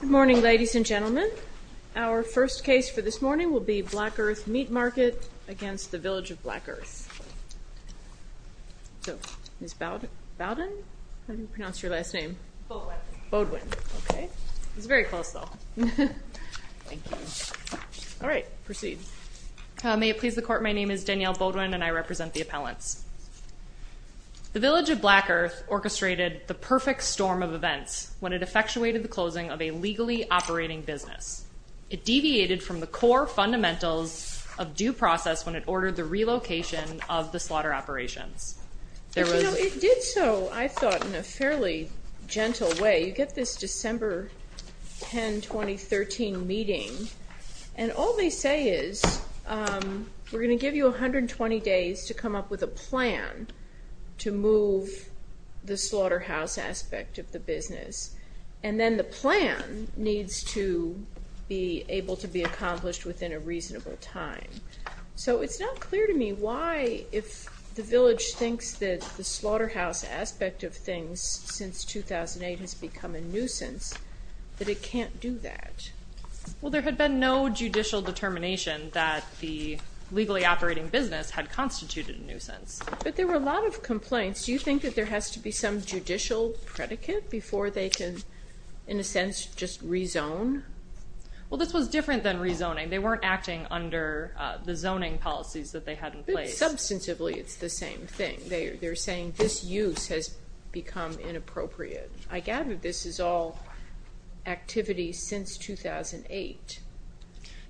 Good morning, ladies and gentlemen. Our first case for this morning will be Black Earth Meat Market against the Village of Black Earth. So, Ms. Bowden? How do you pronounce your last name? Boudwin. Boudwin. Okay. It's very close, though. Thank you. All right. Proceed. May it please the Court, my name is Danielle Boudwin and I represent the appellants. The Village of Black Earth orchestrated the perfect storm of events when it effectuated the closing of a legally operating business. It deviated from the core fundamentals of due process when it ordered the relocation of the slaughter operations. It did so, I thought, in a fairly gentle way. You get this December 10, 2013 meeting and all they say is, we're going to give you 120 days to come up with a plan to move the slaughterhouse aspect of the business. And then the plan needs to be able to be accomplished within a reasonable time. So, it's not clear to me why, if the Village thinks that the slaughterhouse aspect of things since 2008 has become a nuisance, that it can't do that. Well, there had been no judicial determination that the legally operating business had constituted a nuisance. But there were a lot of complaints. Do you think that there has to be some judicial predicate before they can, in a sense, just rezone? Well, this was different than rezoning. They weren't acting under the zoning policies that they had in place. Substantively, it's the same thing. They're saying this use has become inappropriate. I gather this is all activity since 2008.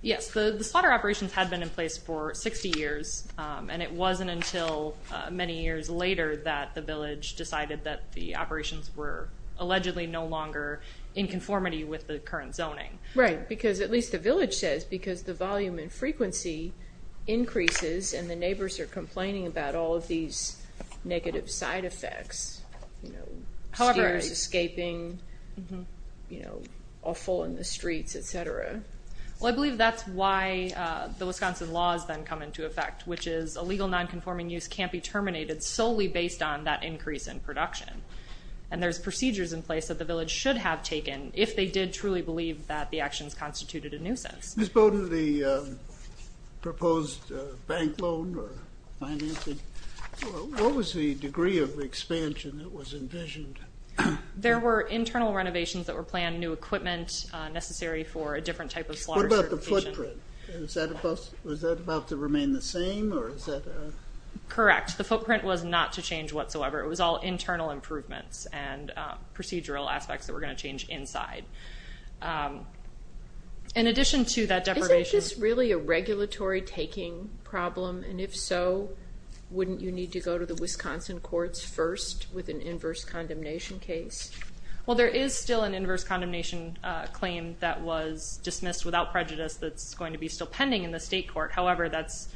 Yes, the slaughter operations had been in place for 60 years, and it wasn't until many years later that the Village decided that the operations were allegedly no longer in conformity with the current zoning. Right, because at least the Village says, because the volume and frequency increases and the neighbors are complaining about all of these negative side effects, you know, steers escaping, you know, awful in the streets, etc. Well, I believe that's why the Wisconsin laws then come into effect, which is illegal nonconforming use can't be terminated solely based on that increase in production. And there's procedures in place that the Village should have taken if they did truly believe that the actions constituted a nuisance. Ms. Bowden, the proposed bank loan or financing, what was the degree of expansion that was envisioned? There were internal renovations that were planned, new equipment necessary for a different type of slaughter. What about the footprint? Was that about to remain the same? Correct. The footprint was not to change whatsoever. It was all internal improvements and procedural aspects that were going to change inside. In addition to that deprivation... Is it just really a regulatory taking problem? And if so, wouldn't you need to go to the Wisconsin courts first with an inverse condemnation case? Well, there is still an inverse condemnation claim that was dismissed without prejudice that's going to be still pending in the state court. However, that's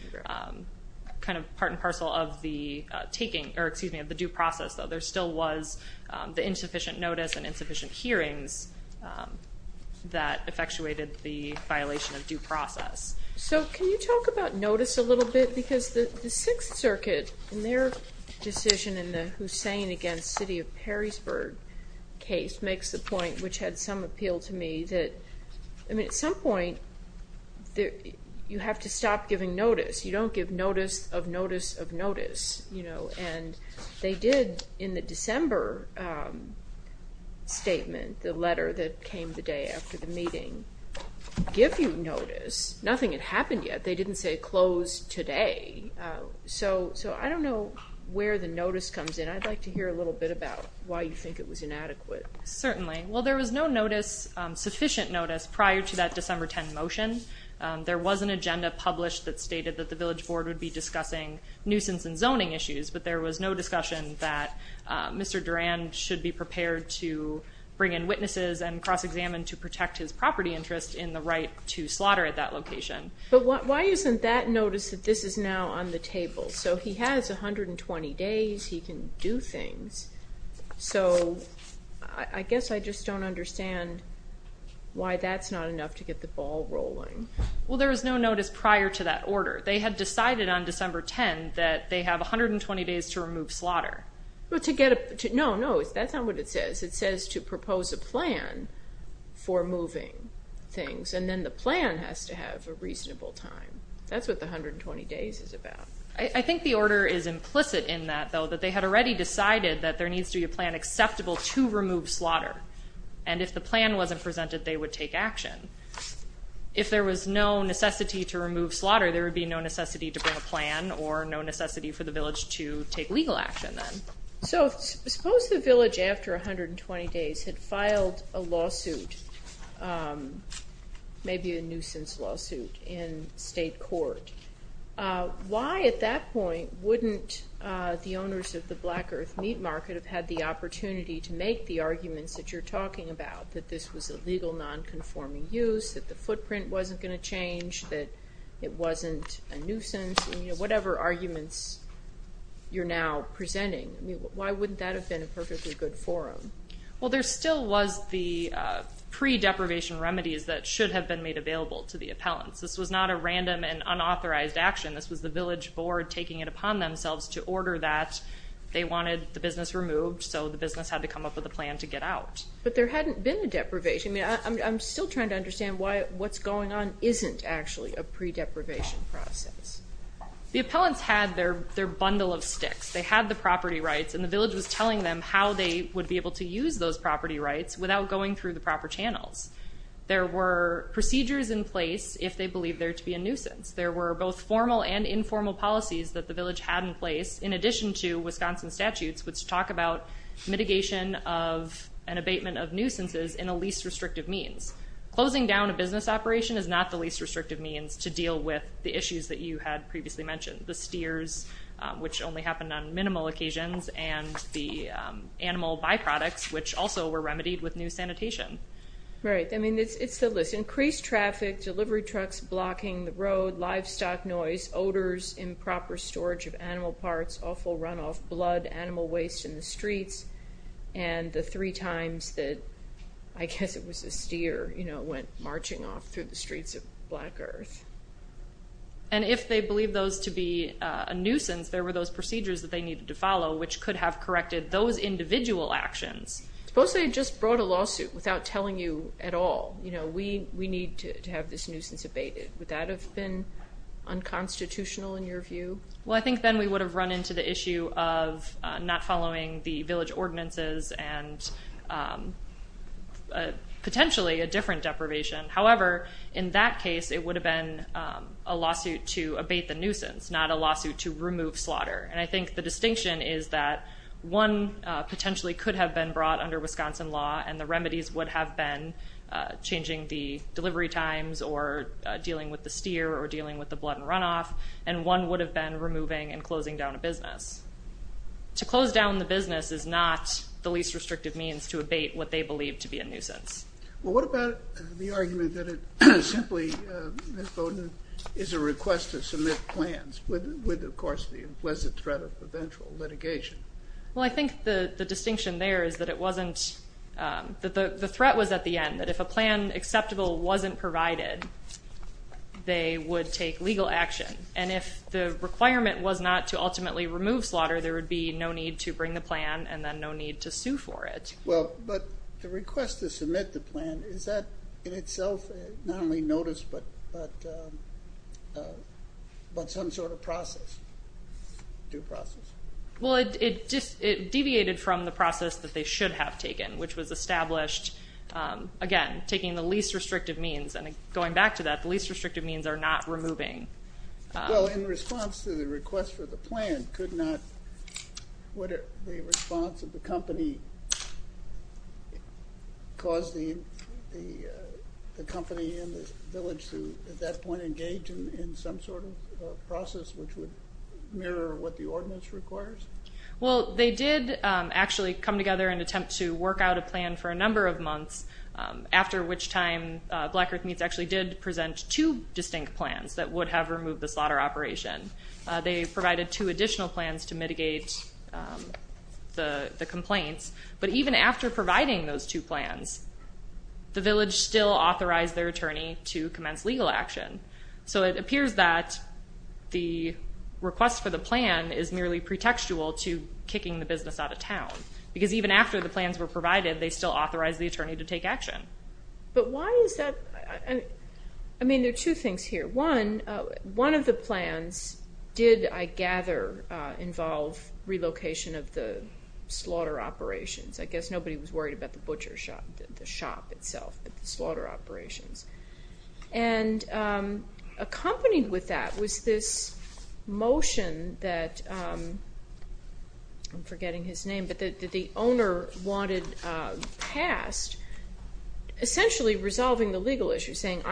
kind of part and parcel of the due process. There still was the insufficient notice and insufficient hearings that effectuated the violation of due process. So can you talk about notice a little bit? Because the Sixth Circuit, in their decision in the Hussein against City of Perrysburg case, makes the point, which had some appeal to me, that at some point you have to stop giving notice. You don't give notice of notice of notice. And they did in the December statement, the letter that came the day after the meeting, give you notice. Nothing had happened yet. They didn't say close today. So I don't know where the notice comes in. I'd like to hear a little bit about why you think it was inadequate. Certainly. Well, there was no notice, sufficient notice, prior to that December 10 motion. There was an agenda published that stated that the village board would be discussing nuisance and zoning issues, but there was no discussion that Mr. Durand should be prepared to bring in witnesses and cross-examine to protect his property interest in the right to slaughter at that location. But why isn't that notice that this is now on the table? So he has 120 days. He can do things. So I guess I just don't understand why that's not enough to get the ball rolling. Well, there was no notice prior to that order. They had decided on December 10 that they have 120 days to remove slaughter. No, no, that's not what it says. It says to propose a plan for moving things, and then the plan has to have a reasonable time. That's what the 120 days is about. I think the order is implicit in that, though, that they had already decided that there needs to be a plan acceptable to remove slaughter, and if the plan wasn't presented, they would take action. If there was no necessity to remove slaughter, there would be no necessity to bring a plan or no necessity for the village to take legal action then. So suppose the village after 120 days had filed a lawsuit, maybe a nuisance lawsuit in state court. Why at that point wouldn't the owners of the Black Earth meat market have had the opportunity to make the arguments that you're talking about, that this was a legal nonconforming use, that the footprint wasn't going to change, that it wasn't a nuisance, whatever arguments you're now presenting, why wouldn't that have been a perfectly good forum? Well, there still was the pre-deprivation remedies that should have been made available to the appellants. This was not a random and unauthorized action. This was the village board taking it upon themselves to order that. They wanted the business removed, so the business had to come up with a plan to get out. But there hadn't been a deprivation. I'm still trying to understand why what's going on isn't actually a pre-deprivation process. The appellants had their bundle of sticks. They had the property rights, and the village was telling them how they would be able to use those property rights without going through the proper channels. There were procedures in place if they believed there to be a nuisance. There were both formal and informal policies that the village had in place, in addition to Wisconsin statutes which talk about mitigation of an abatement of nuisances in a least restrictive means. Closing down a business operation is not the least restrictive means to deal with the issues that you had previously mentioned. The steers, which only happened on minimal occasions, and the animal byproducts, which also were remedied with new sanitation. Right. I mean, it's the list. Increased traffic, delivery trucks blocking the road, livestock noise, odors, and the three times that I guess it was a steer, you know, went marching off through the streets of Black Earth. And if they believed those to be a nuisance, there were those procedures that they needed to follow, which could have corrected those individual actions. Suppose they had just brought a lawsuit without telling you at all, you know, we need to have this nuisance abated. Would that have been unconstitutional in your view? Well, I think then we would have run into the issue of not following the village ordinances and potentially a different deprivation. However, in that case, it would have been a lawsuit to abate the nuisance, not a lawsuit to remove slaughter. And I think the distinction is that one potentially could have been brought under Wisconsin law and the remedies would have been changing the delivery times or dealing with the steer or dealing with the blood and runoff. And one would have been removing and closing down a business. To close down the business is not the least restrictive means to abate what they believe to be a nuisance. Well, what about the argument that it simply, Ms. Bowden, is a request to submit plans, with of course the implicit threat of eventual litigation? Well, I think the distinction there is that it wasn't, that the threat was at the end, that if a plan acceptable wasn't provided, they would take legal action. And if the requirement was not to ultimately remove slaughter, there would be no need to bring the plan and then no need to sue for it. Well, but the request to submit the plan, is that in itself not only notice but some sort of process, due process? Well, it deviated from the process that they should have taken, which was established, again, taking the least restrictive means. And going back to that, the least restrictive means are not removing. Well, in response to the request for the plan, could not, would the response of the company cause the company and the village to, at that point, engage in some sort of process which would mirror what the ordinance requires? Well, they did actually come together and attempt to work out a plan for a number of months, after which time Black Earth Meats actually did present two distinct plans that would have removed the slaughter operation. They provided two additional plans to mitigate the complaints, but even after providing those two plans, the village still authorized their attorney to commence legal action. So it appears that the request for the plan is merely pretextual to kicking the business out of town, because even after the plans were provided, they still authorized the attorney to take action. But why is that? I mean, there are two things here. One, one of the plans did, I gather, involve relocation of the slaughter operations. I guess nobody was worried about the butcher shop, the shop itself, but the slaughter operations. And accompanied with that was this motion that, I'm forgetting his name, but that the owner wanted passed, essentially resolving the legal issue, saying,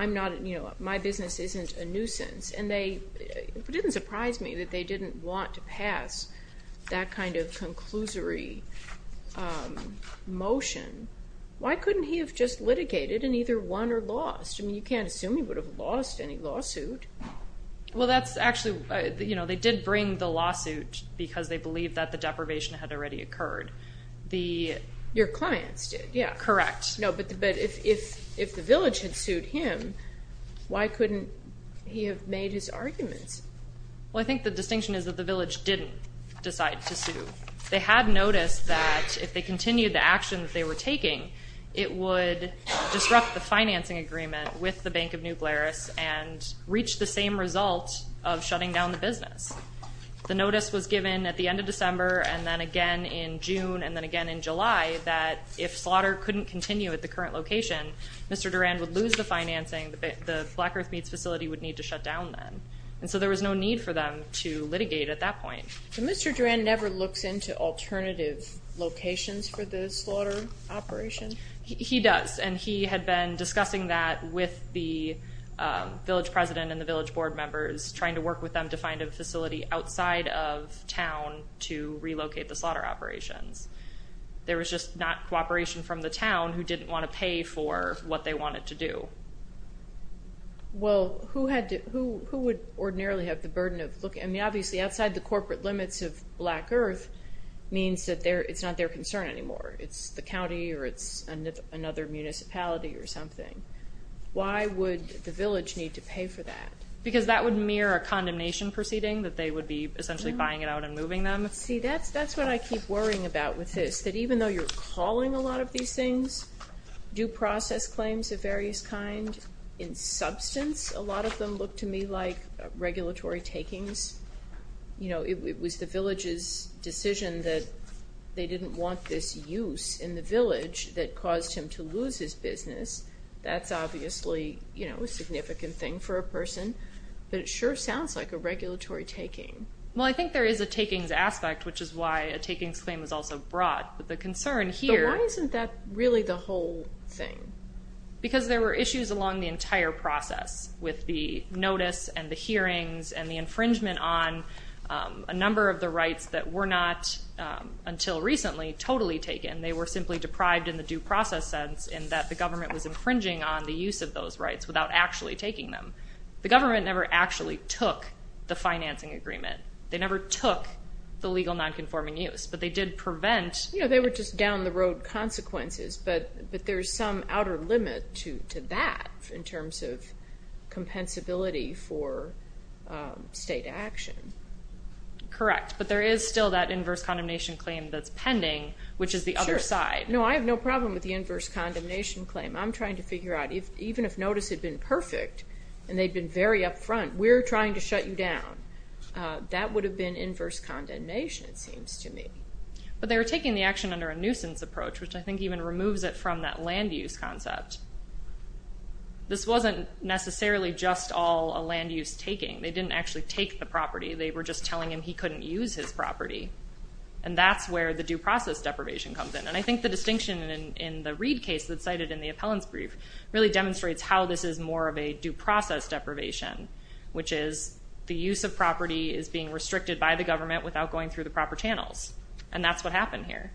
you know, my business isn't a nuisance. And it didn't surprise me that they didn't want to pass that kind of conclusory motion. Why couldn't he have just litigated and either won or lost? I mean, you can't assume he would have lost any lawsuit. Well, that's actually, you know, they did bring the lawsuit because they believed that the deprivation had already occurred. Your clients did, yeah. Correct. No, but if the village had sued him, why couldn't he have made his arguments? They had noticed that if they continued the actions they were taking, it would disrupt the financing agreement with the Bank of New Blarus and reach the same result of shutting down the business. The notice was given at the end of December and then again in June and then again in July that if slaughter couldn't continue at the current location, Mr. Durand would lose the financing. The Black Earth Meats facility would need to shut down then. And so there was no need for them to litigate at that point. So Mr. Durand never looks into alternative locations for the slaughter operation? He does, and he had been discussing that with the village president and the village board members, trying to work with them to find a facility outside of town to relocate the slaughter operations. There was just not cooperation from the town who didn't want to pay for what they wanted to do. Well, who would ordinarily have the burden of looking? I mean, obviously outside the corporate limits of Black Earth means that it's not their concern anymore. It's the county or it's another municipality or something. Why would the village need to pay for that? Because that would mirror a condemnation proceeding, that they would be essentially buying it out and moving them? See, that's what I keep worrying about with this, that even though you're calling a lot of these things due process claims of various kind, in substance, a lot of them look to me like regulatory takings. It was the village's decision that they didn't want this use in the village that caused him to lose his business. That's obviously a significant thing for a person, but it sure sounds like a regulatory taking. Well, I think there is a takings aspect, which is why a takings claim is also brought with the concern here. But why isn't that really the whole thing? Because there were issues along the entire process with the notice and the hearings and the infringement on a number of the rights that were not, until recently, totally taken. They were simply deprived in the due process sense in that the government was infringing on the use of those rights without actually taking them. The government never actually took the financing agreement. They never took the legal nonconforming use, but they did prevent. They were just down the road consequences, but there's some outer limit to that in terms of compensability for state action. Correct, but there is still that inverse condemnation claim that's pending, which is the other side. No, I have no problem with the inverse condemnation claim. I'm trying to figure out, even if notice had been perfect and they'd been very up front, we're trying to shut you down. That would have been inverse condemnation, it seems to me. But they were taking the action under a nuisance approach, which I think even removes it from that land use concept. This wasn't necessarily just all a land use taking. They didn't actually take the property. They were just telling him he couldn't use his property, and that's where the due process deprivation comes in. And I think the distinction in the Reed case that's cited in the appellant's brief really demonstrates how this is more of a due process deprivation, which is the use of property is being restricted by the government without going through the proper channels, and that's what happened here.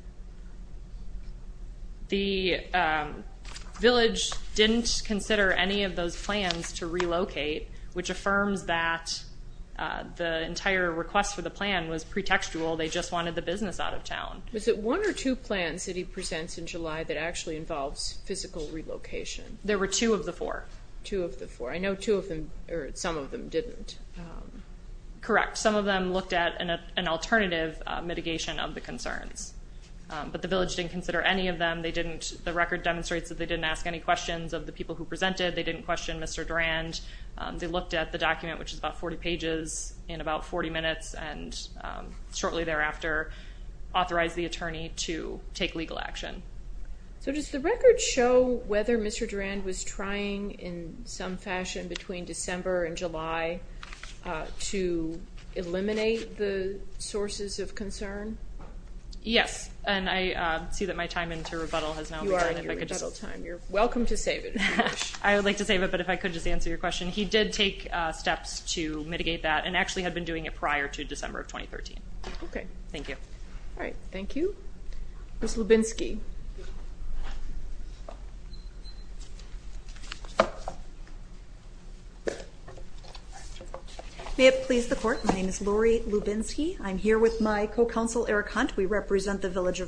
The village didn't consider any of those plans to relocate, which affirms that the entire request for the plan was pretextual. They just wanted the business out of town. Was it one or two plans that he presents in July that actually involves physical relocation? There were two of the four. Two of the four. I know two of them, or some of them, didn't. Correct. Some of them looked at an alternative mitigation of the concerns, but the village didn't consider any of them. The record demonstrates that they didn't ask any questions of the people who presented. They didn't question Mr. Durand. They looked at the document, which is about 40 pages in about 40 minutes, and shortly thereafter authorized the attorney to take legal action. So does the record show whether Mr. Durand was trying in some fashion between December and July to eliminate the sources of concern? Yes, and I see that my time into rebuttal has now begun. You are on your rebuttal time. You're welcome to save it if you wish. I would like to save it, but if I could just answer your question. He did take steps to mitigate that and actually had been doing it prior to December of 2013. Okay. Thank you. All right. Thank you. Ms. Lubinsky. May it please the Court, my name is Lori Lubinsky. I'm here with my co-counsel, Eric Hunt. We represent the Village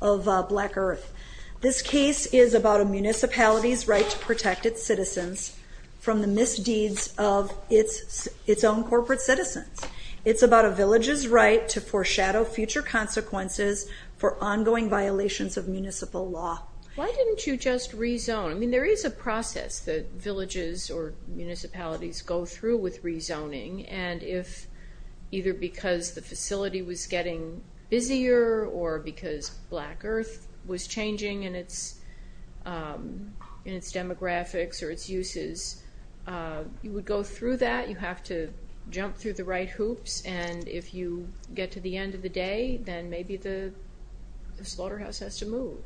of Black Earth. This case is about a municipality's right to protect its citizens from the misdeeds of its own corporate citizens. It's about a village's right to foreshadow future consequences for ongoing violations of municipal law. Why didn't you just rezone? I mean, there is a process that villages or municipalities go through with rezoning, and if either because the facility was getting busier or because Black Earth was changing in its demographics or its uses, you would go through that. You have to jump through the right hoops, and if you get to the end of the day, then maybe the slaughterhouse has to move.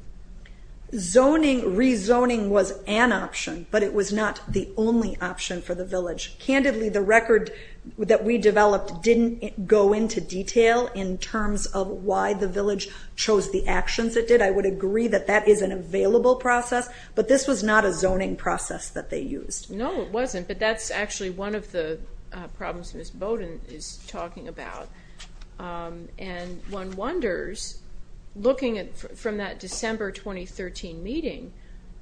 Zoning, rezoning was an option, but it was not the only option for the village. Candidly, the record that we developed didn't go into detail in terms of why the village chose the actions it did. I would agree that that is an available process, but this was not a zoning process that they used. No, it wasn't, but that's actually one of the problems Ms. Bowden is talking about. And one wonders, looking from that December 2013 meeting,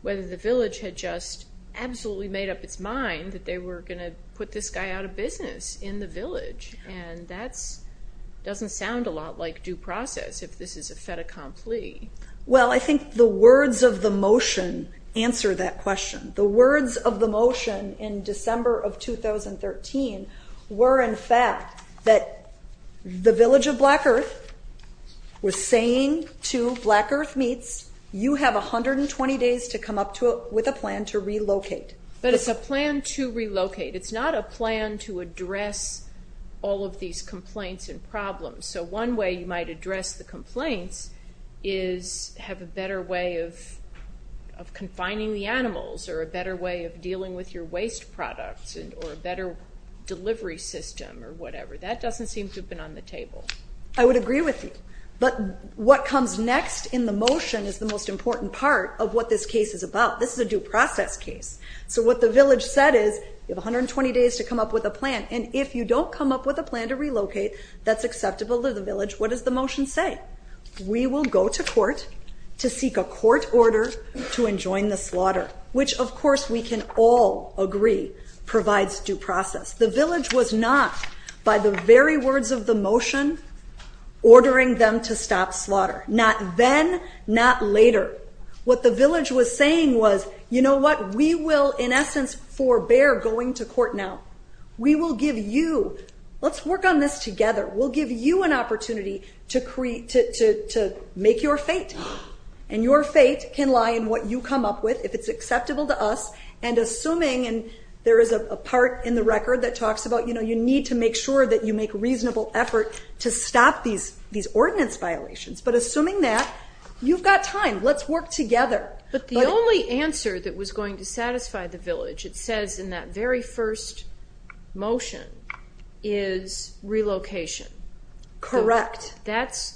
whether the village had just absolutely made up its mind that they were going to put this guy out of business in the village, and that doesn't sound a lot like due process if this is a fait accompli. Well, I think the words of the motion answer that question. The words of the motion in December of 2013 were, in fact, that the village of Black Earth was saying to Black Earth Meats, you have 120 days to come up with a plan to relocate. But it's a plan to relocate. It's not a plan to address all of these complaints and problems. So one way you might address the complaints is have a better way of confining the animals or a better way of dealing with your waste products or a better delivery system or whatever. That doesn't seem to have been on the table. I would agree with you, but what comes next in the motion is the most important part of what this case is about. This is a due process case. So what the village said is, you have 120 days to come up with a plan, and if you don't come up with a plan to relocate that's acceptable to the village, what does the motion say? We will go to court to seek a court order to enjoin the slaughter, which, of course, we can all agree provides due process. The village was not, by the very words of the motion, ordering them to stop slaughter. Not then, not later. What the village was saying was, you know what, we will, in essence, forbear going to court now. We will give you, let's work on this together, we'll give you an opportunity to make your fate. And your fate can lie in what you come up with, if it's acceptable to us, and assuming, and there is a part in the record that talks about, you know, you need to make sure that you make reasonable effort to stop these ordinance violations. But assuming that, you've got time. Let's work together. But the only answer that was going to satisfy the village, it says in that very first motion, is relocation. Correct.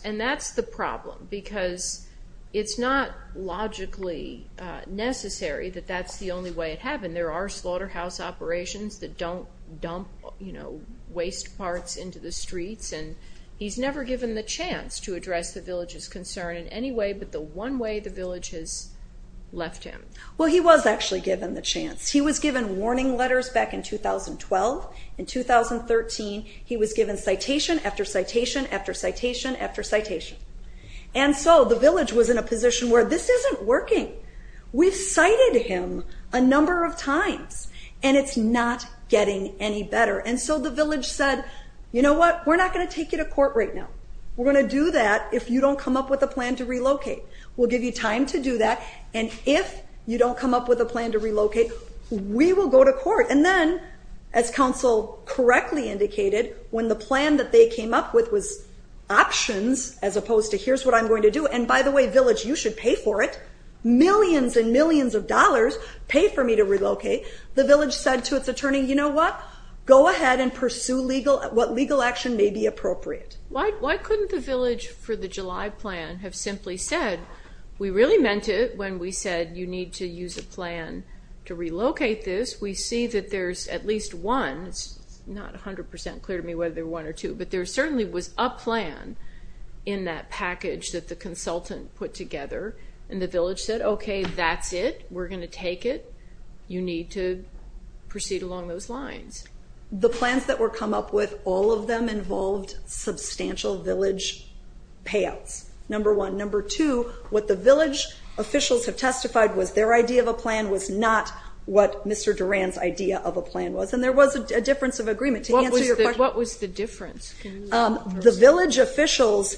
And that's the problem, because it's not logically necessary that that's the only way it happened. There are slaughterhouse operations that don't dump, you know, waste parts into the streets, and he's never given the chance to address the village's concern in any way, but the one way the village has left him. Well, he was actually given the chance. He was given warning letters back in 2012. In 2013, he was given citation after citation after citation after citation. And so the village was in a position where this isn't working. We've cited him a number of times, and it's not getting any better. And so the village said, you know what, we're not going to take you to court right now. We're going to do that if you don't come up with a plan to relocate. We'll give you time to do that, and if you don't come up with a plan to relocate, we will go to court. And then, as counsel correctly indicated, when the plan that they came up with was options as opposed to here's what I'm going to do, and by the way, village, you should pay for it. Millions and millions of dollars pay for me to relocate. The village said to its attorney, you know what, go ahead and pursue what legal action may be appropriate. Why couldn't the village for the July plan have simply said, we really meant it when we said you need to use a plan to relocate this. We see that there's at least one. It's not 100% clear to me whether they're one or two, but there certainly was a plan in that package that the consultant put together. And the village said, okay, that's it. We're going to take it. You need to proceed along those lines. The plans that were come up with, all of them involved substantial village payouts, number one. Number two, what the village officials have testified was their idea of a plan was not what Mr. Duran's idea of a plan was. And there was a difference of agreement. To answer your question. What was the difference? The village official's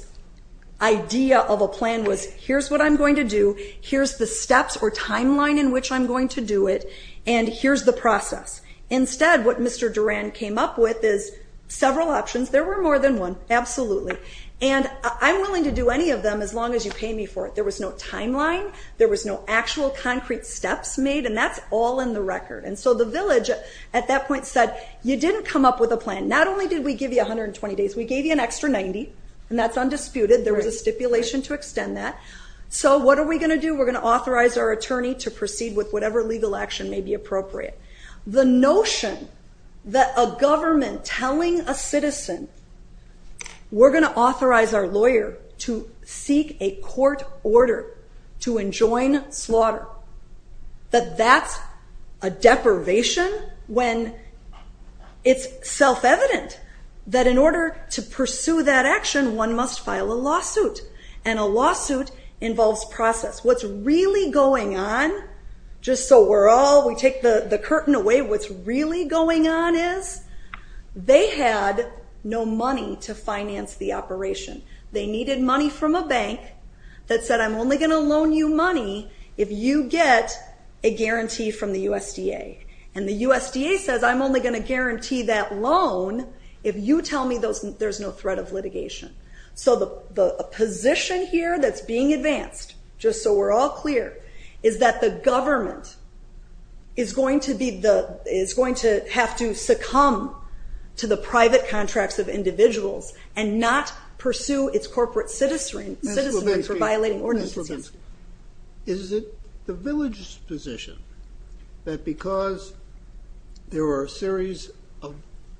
idea of a plan was here's what I'm going to do, here's the steps or timeline in which I'm going to do it, and here's the process. Instead, what Mr. Duran came up with is several options. There were more than one, absolutely. And I'm willing to do any of them as long as you pay me for it. There was no timeline. There was no actual concrete steps made, and that's all in the record. And so the village at that point said, you didn't come up with a plan. Not only did we give you 120 days, we gave you an extra 90, and that's undisputed. There was a stipulation to extend that. So what are we going to do? We're going to authorize our attorney to proceed with whatever legal action may be appropriate. The notion that a government telling a citizen, we're going to authorize our lawyer to seek a court order to enjoin slaughter, that that's a deprivation when it's self-evident that in order to pursue that action, one must file a lawsuit. And a lawsuit involves process. What's really going on, just so we take the curtain away, what's really going on is they had no money to finance the operation. They needed money from a bank that said, I'm only going to loan you money if you get a guarantee from the USDA. And the USDA says, I'm only going to guarantee that loan if you tell me there's no threat of litigation. So the position here that's being advanced, just so we're all clear, is that the government is going to have to succumb to the private contracts of individuals and not pursue its corporate citizenry for violating ordinances. Is it the village's position that because there are a series of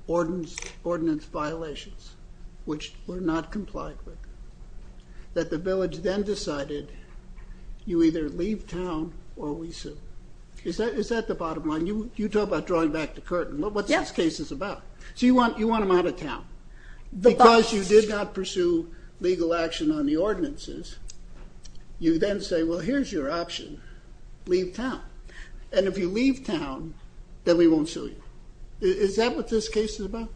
ordinance violations, which were not complied with, that the village then decided you either leave town or we sue? Is that the bottom line? You talk about drawing back the curtain. What's this case about? So you want them out of town. Because you did not pursue legal action on the ordinances, you then say, well, here's your option, leave town. And if you leave town, then we won't sue you. Is that what this case is about?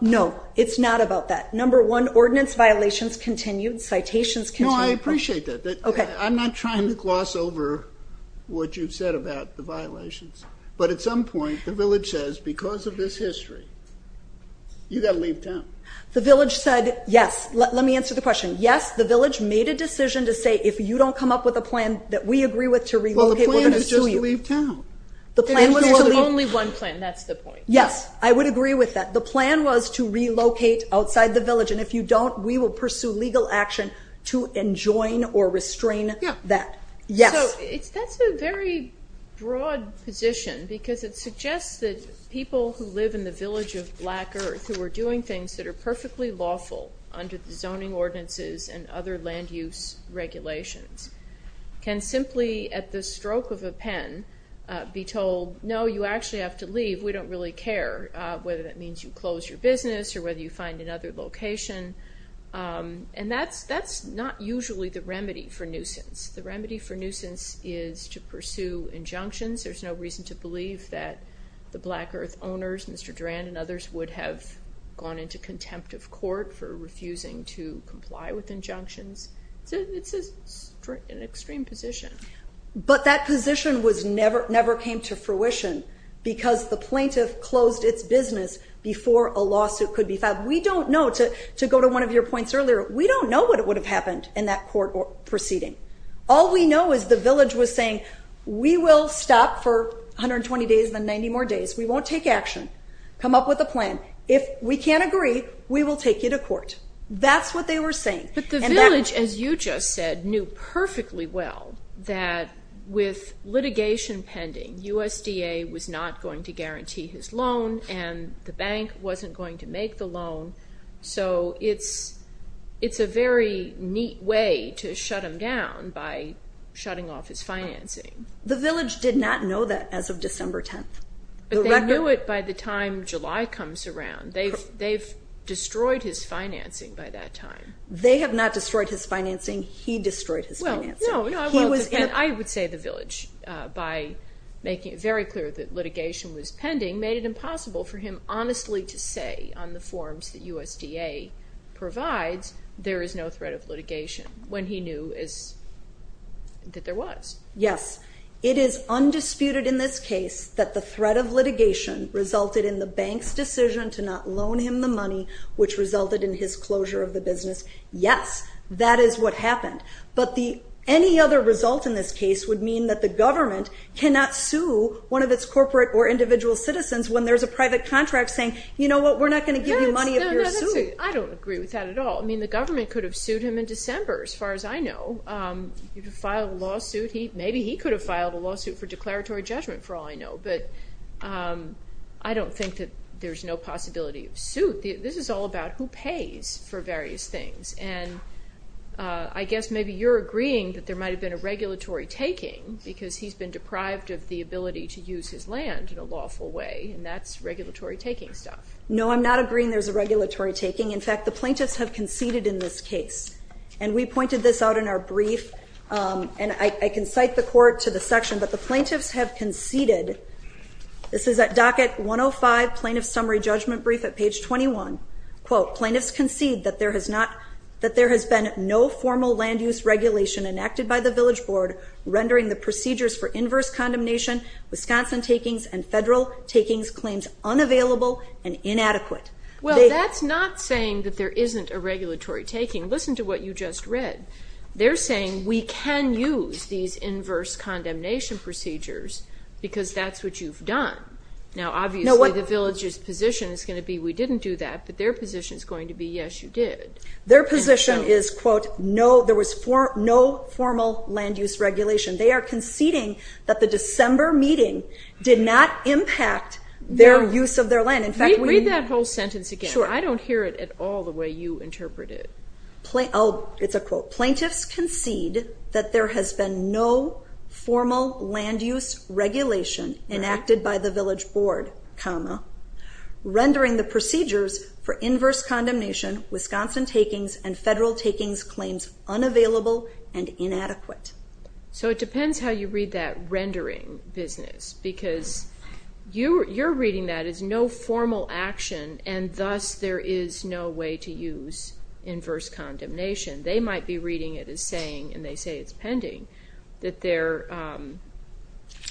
No, it's not about that. Number one, ordinance violations continued, citations continued. No, I appreciate that. I'm not trying to gloss over what you've said about the violations. But at some point, the village says, because of this history, you've got to leave town. The village said, yes. Let me answer the question. Yes, the village made a decision to say, if you don't come up with a plan that we agree with to relocate, we're going to sue you. Well, the plan is just to leave town. The plan was to leave. Only one plan, that's the point. Yes, I would agree with that. The plan was to relocate outside the village. And if you don't, we will pursue legal action to enjoin or restrain that. Yes. So that's a very broad position because it suggests that people who live in the village of Black Earth who are doing things that are perfectly lawful under the zoning ordinances and other land use regulations can simply, at the stroke of a pen, be told, no, you actually have to leave. We don't really care whether that means you close your business or whether you find another location. And that's not usually the remedy for nuisance. The remedy for nuisance is to pursue injunctions. There's no reason to believe that the Black Earth owners, Mr. Durand and others, would have gone into contempt of court for refusing to comply with injunctions. It's an extreme position. But that position never came to fruition because the plaintiff closed its business before a lawsuit could be filed. We don't know, to go to one of your points earlier, we don't know what would have happened in that court proceeding. All we know is the village was saying, we will stop for 120 days and then 90 more days. We won't take action. Come up with a plan. If we can't agree, we will take you to court. That's what they were saying. But the village, as you just said, knew perfectly well that with litigation pending, USDA was not going to guarantee his loan and the bank wasn't going to make the loan. So it's a very neat way to shut him down by shutting off his financing. The village did not know that as of December 10th. But they knew it by the time July comes around. They've destroyed his financing by that time. They have not destroyed his financing. He destroyed his financing. I would say the village, by making it very clear that litigation was pending, made it impossible for him honestly to say on the forms that USDA provides there is no threat of litigation when he knew that there was. Yes. It is undisputed in this case that the threat of litigation resulted in the bank's decision to not loan him the money, which resulted in his closure of the business. Yes. That is what happened. But any other result in this case would mean that the government cannot sue one of its corporate or individual citizens when there's a private contract saying, you know what, we're not going to give you money if you're sued. I don't agree with that at all. I mean, the government could have sued him in December, as far as I know. You could file a lawsuit. Maybe he could have filed a lawsuit for declaratory judgment, for all I know. But I don't think that there's no possibility of suit. This is all about who pays for various things. And I guess maybe you're agreeing that there might have been a regulatory taking because he's been deprived of the ability to use his land in a lawful way, and that's regulatory taking stuff. No, I'm not agreeing there's a regulatory taking. In fact, the plaintiffs have conceded in this case. And we pointed this out in our brief, and I can cite the court to the section, but the plaintiffs have conceded. This is at docket 105, Plaintiff Summary Judgment Brief at page 21. Quote, Plaintiffs concede that there has been no formal land use regulation enacted by the Village Board rendering the procedures for inverse condemnation, Wisconsin takings, and federal takings claims unavailable and inadequate. Well, that's not saying that there isn't a regulatory taking. Listen to what you just read. They're saying we can use these inverse condemnation procedures because that's what you've done. Now, obviously, the village's position is going to be we didn't do that, but their position is going to be yes, you did. Their position is, quote, no, there was no formal land use regulation. They are conceding that the December meeting did not impact their use of their land. Read that whole sentence again. I don't hear it at all the way you interpret it. It's a quote. Plaintiffs concede that there has been no formal land use regulation enacted by the Village Board, comma, rendering the procedures for inverse condemnation, Wisconsin takings, and federal takings claims unavailable and inadequate. So it depends how you read that rendering business because you're reading that as no formal action and thus there is no way to use inverse condemnation. They might be reading it as saying, and they say it's pending, that there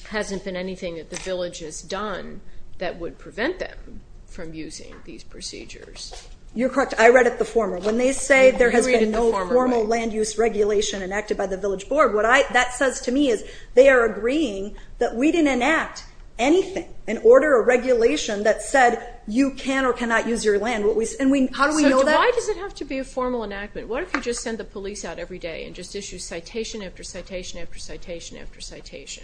hasn't been anything that the village has done that would prevent them from using these procedures. You're correct. I read it the former. When they say there has been no formal land use regulation enacted by the Village Board, what that says to me is they are agreeing that we didn't enact anything and order a regulation that said you can or cannot use your land. How do we know that? So why does it have to be a formal enactment? What if you just send the police out every day and just issue citation after citation after citation after citation?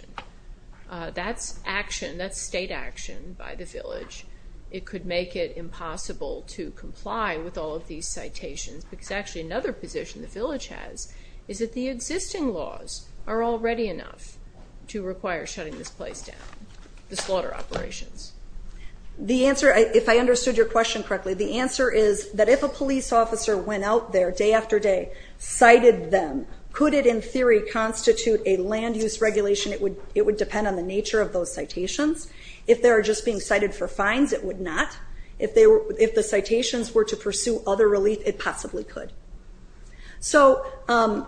That's action. That's state action by the village. It could make it impossible to comply with all of these citations because actually another position the village has is that the existing laws are already enough to require shutting this place down, the slaughter operations. If I understood your question correctly, the answer is that if a police officer went out there day after day, cited them, could it in theory constitute a land use regulation? It would depend on the nature of those citations. If they were just being cited for fines, it would not. If the citations were to pursue other relief, it possibly could. Part of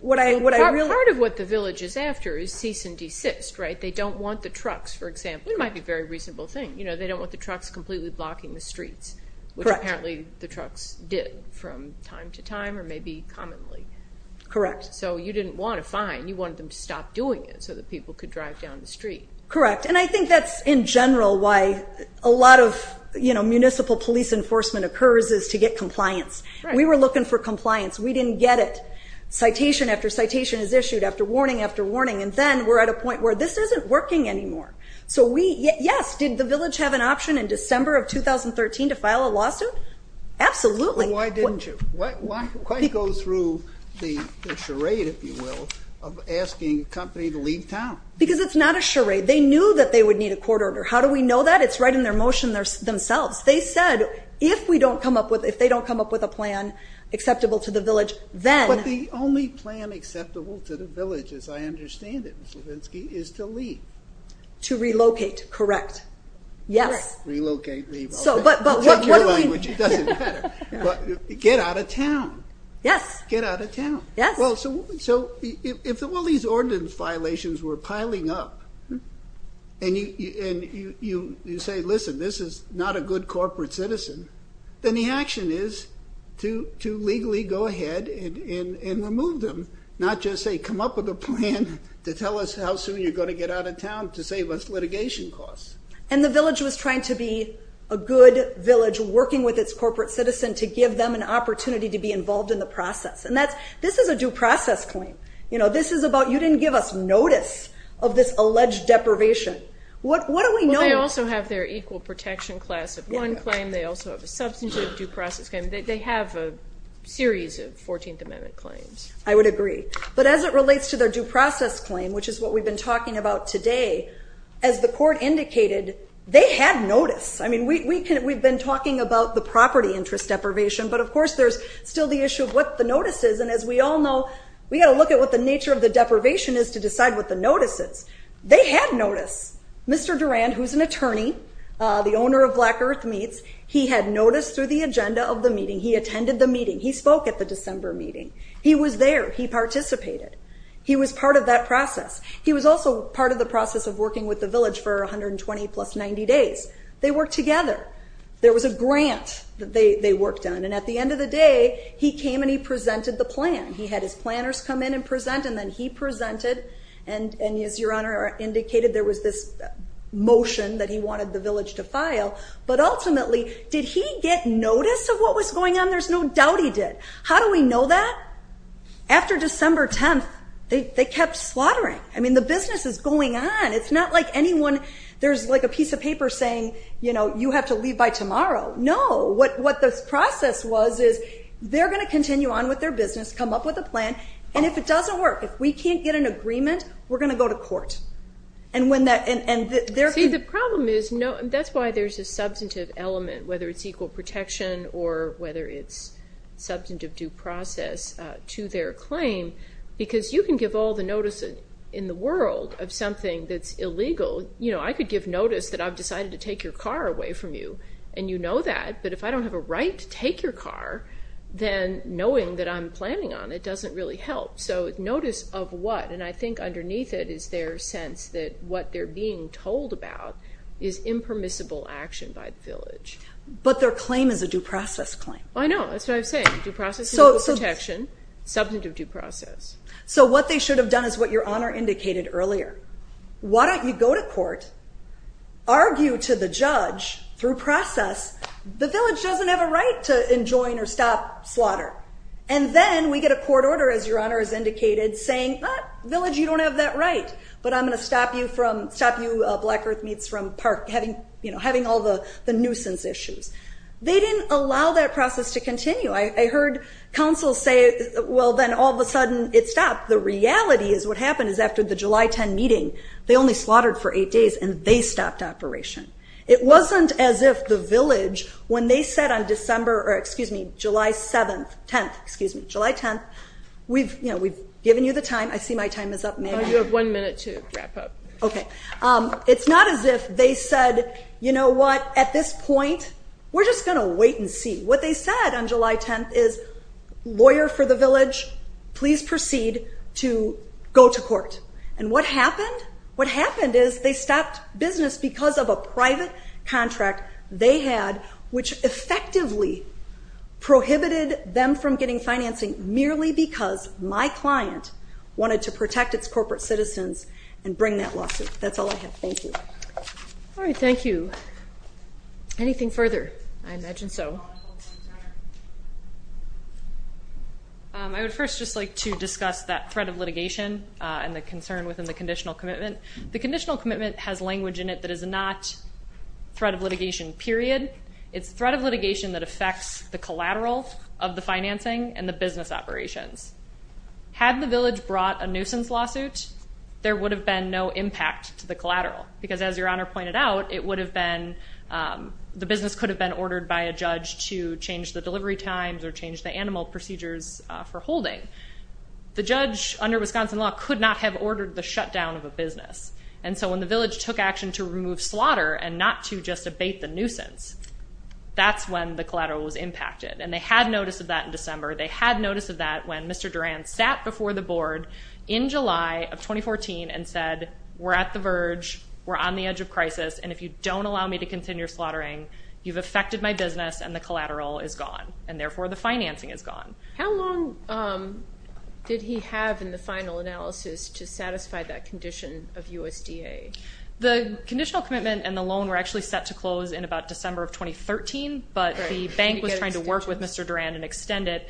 what the village is after is cease and desist. They don't want the trucks, for example. It might be a very reasonable thing. They don't want the trucks completely blocking the streets, which apparently the trucks did from time to time or maybe commonly. So you didn't want a fine. You wanted them to stop doing it so that people could drive down the street. Correct, and I think that's, in general, why a lot of municipal police enforcement occurs is to get compliance. We were looking for compliance. We didn't get it. Citation after citation is issued after warning after warning, and then we're at a point where this isn't working anymore. So yes, did the village have an option in December of 2013 to file a lawsuit? Absolutely. Why didn't you? Why go through the charade, if you will, of asking a company to leave town? Because it's not a charade. They knew that they would need a court order. How do we know that? It's right in their motion themselves. They said, if they don't come up with a plan acceptable to the village, then. But the only plan acceptable to the village, as I understand it, Ms. Levinsky, is to leave. To relocate, correct. Yes. Relocate, leave. I'll take your language. It doesn't matter. Get out of town. Yes. Get out of town. Yes. Well, so if all these ordinance violations were piling up and you say, listen, this is not a good corporate citizen, then the action is to legally go ahead and remove them, not just say come up with a plan to tell us how soon you're going to get out of town to save us litigation costs. And the village was trying to be a good village, working with its corporate citizen to give them an opportunity to be involved in the process. And this is a due process claim. This is about you didn't give us notice of this alleged deprivation. What do we know? Well, they also have their equal protection class of one claim. They also have a substantive due process claim. They have a series of 14th Amendment claims. I would agree. But as it relates to their due process claim, which is what we've been talking about today, as the court indicated, they had notice. I mean, we've been talking about the property interest deprivation, but, of course, there's still the issue of what the notice is. And as we all know, we've got to look at what the nature of the deprivation is to decide what the notice is. They had notice. Mr. Durand, who's an attorney, the owner of Black Earth Meats, he had notice through the agenda of the meeting. He attended the meeting. He spoke at the December meeting. He was there. He participated. He was part of that process. He was also part of the process of working with the village for 120 plus 90 days. They worked together. There was a grant that they worked on. And at the end of the day, he came and he presented the plan. He had his planners come in and present, and then he presented. And as your Honor indicated, there was this motion that he wanted the village to file. But ultimately, did he get notice of what was going on? There's no doubt he did. How do we know that? After December 10th, they kept slaughtering. I mean, the business is going on. It's not like anyone, there's like a piece of paper saying, you know, you have to leave by tomorrow. No. What this process was is they're going to continue on with their business, come up with a plan. And if it doesn't work, if we can't get an agreement, we're going to go to court. See, the problem is that's why there's a substantive element, whether it's equal protection or whether it's substantive due process to their claim, because you can give all the notice in the world of something that's illegal. I could give notice that I've decided to take your car away from you, and you know that. But if I don't have a right to take your car, then knowing that I'm planning on it doesn't really help. So notice of what? And I think underneath it is their sense that what they're being told about is impermissible action by the village. But their claim is a due process claim. I know. That's what I'm saying. Due process, equal protection, substantive due process. So what they should have done is what your Honor indicated earlier. Why don't you go to court, argue to the judge through process, the village doesn't have a right to enjoin or stop slaughter. And then we get a court order, as your Honor has indicated, saying, village, you don't have that right, but I'm going to stop you Black Earth Meats from having all the nuisance issues. They didn't allow that process to continue. I heard counsel say, well, then all of a sudden it stopped. The reality is what happened is after the July 10 meeting, they only slaughtered for eight days and they stopped operation. It wasn't as if the village, when they said on December or, excuse me, July 7th, 10th, excuse me, July 10th, we've given you the time. I see my time is up. You have one minute to wrap up. Okay. It's not as if they said, you know what, at this point, we're just going to wait and see. What they said on July 10th is, lawyer for the village, please proceed. Go to court. And what happened is they stopped business because of a private contract they had, which effectively prohibited them from getting financing merely because my client wanted to protect its corporate citizens and bring that lawsuit. That's all I have. Thank you. All right. Thank you. Anything further? I imagine so. I would first just like to discuss that threat of litigation and the concern within the conditional commitment. The conditional commitment has language in it that is not threat of litigation, period. It's threat of litigation that affects the collateral of the financing and the business operations. Had the village brought a nuisance lawsuit, there would have been no impact to the collateral because as your honor pointed out, it would have been, the business could have been ordered by a judge to change the delivery times or change the animal procedures for holding. The judge, under Wisconsin law, could not have ordered the shutdown of a business. And so when the village took action to remove slaughter and not to just abate the nuisance, that's when the collateral was impacted. And they had notice of that in December. They had notice of that when Mr. Durand sat before the board in July of 2014 and said, we're at the verge, we're on the edge of crisis, and if you don't allow me to continue slaughtering, you've affected my business and the collateral is gone. And therefore, the financing is gone. How long did he have in the final analysis to satisfy that condition of USDA? The conditional commitment and the loan were actually set to close in about December of 2013, but the bank was trying to work with Mr. Durand and extend it.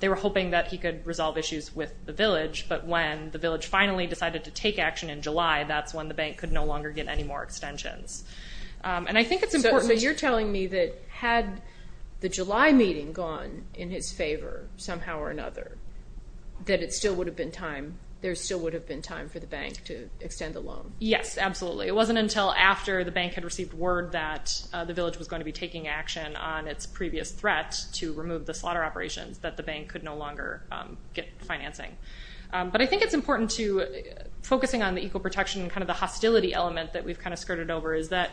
They were hoping that he could resolve issues with the village, but when the village finally decided to take action in July, that's when the bank could no longer get any more extensions. And I think it's important. So you're telling me that had the July meeting gone in his favor, somehow or another, that it still would have been time, there still would have been time for the bank to extend the loan? Yes, absolutely. It wasn't until after the bank had received word that the village was going to be taking action on its previous threat to remove the slaughter operations that the bank could no longer get financing. But I think it's important to focusing on the equal protection and kind of the hostility element that we've kind of skirted over is that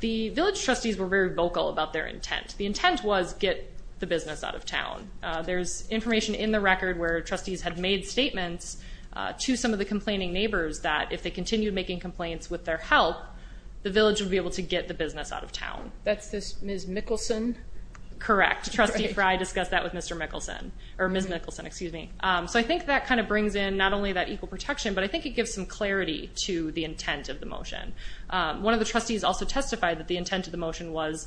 the village trustees were very vocal about their intent. The intent was get the business out of town. There's information in the record where trustees had made statements to some of the complaining neighbors that if they continued making complaints with their help, the village would be able to get the business out of town. That's this Ms. Mickelson? Correct. Trustee Frey discussed that with Mr. Mickelson, or Ms. Mickelson, excuse me. So I think that kind of brings in not only that equal protection, but I think it gives some clarity to the intent of the motion. One of the trustees also testified that the intent of the motion was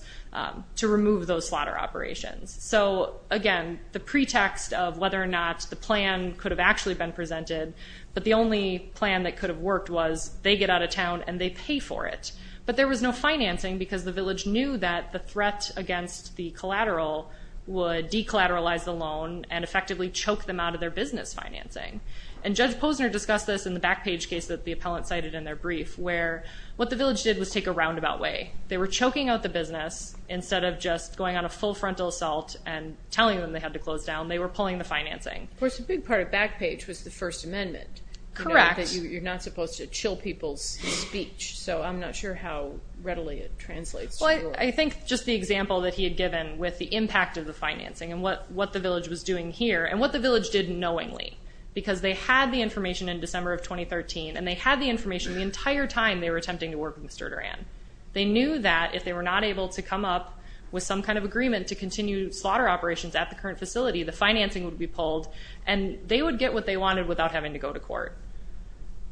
to remove those slaughter operations. So, again, the pretext of whether or not the plan could have actually been presented, but the only plan that could have worked was they get out of town and they pay for it. But there was no financing because the village knew that the threat against the collateral would declateralize the loan and effectively choke them out of their business financing. And Judge Posner discussed this in the Backpage case that the appellant cited in their brief, where what the village did was take a roundabout way. They were choking out the business instead of just going on a full frontal assault and telling them they had to close down. They were pulling the financing. Of course, a big part of Backpage was the First Amendment. Correct. You're not supposed to chill people's speech, so I'm not sure how readily it translates. I think just the example that he had given with the impact of the financing and what the village was doing here and what the village did knowingly, because they had the information in December of 2013, and they had the information the entire time they were attempting to work with Mr. Duran. They knew that if they were not able to come up with some kind of agreement to continue slaughter operations at the current facility, the financing would be pulled and they would get what they wanted without having to go to court.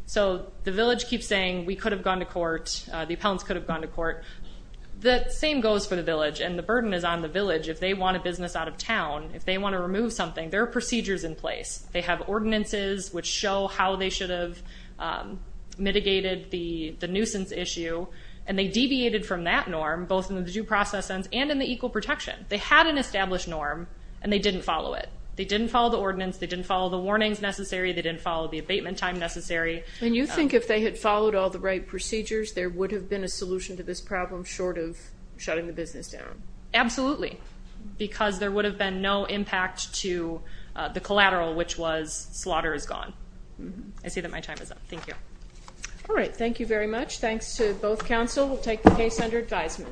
So the village keeps saying, we could have gone to court, the appellants could have gone to court. The same goes for the village, and the burden is on the village. If they want a business out of town, if they want to remove something, there are procedures in place. They have ordinances which show how they should have mitigated the nuisance issue, and they deviated from that norm, both in the due process sense and in the equal protection. They had an established norm, and they didn't follow it. They didn't follow the ordinance. They didn't follow the warnings necessary. They didn't follow the abatement time necessary. And you think if they had followed all the right procedures, there would have been a solution to this problem short of shutting the business down? Absolutely. Because there would have been no impact to the collateral, which was slaughter is gone. I see that my time is up. Thank you. All right. Thank you very much. Thanks to both counsel. We'll take the case under advisement.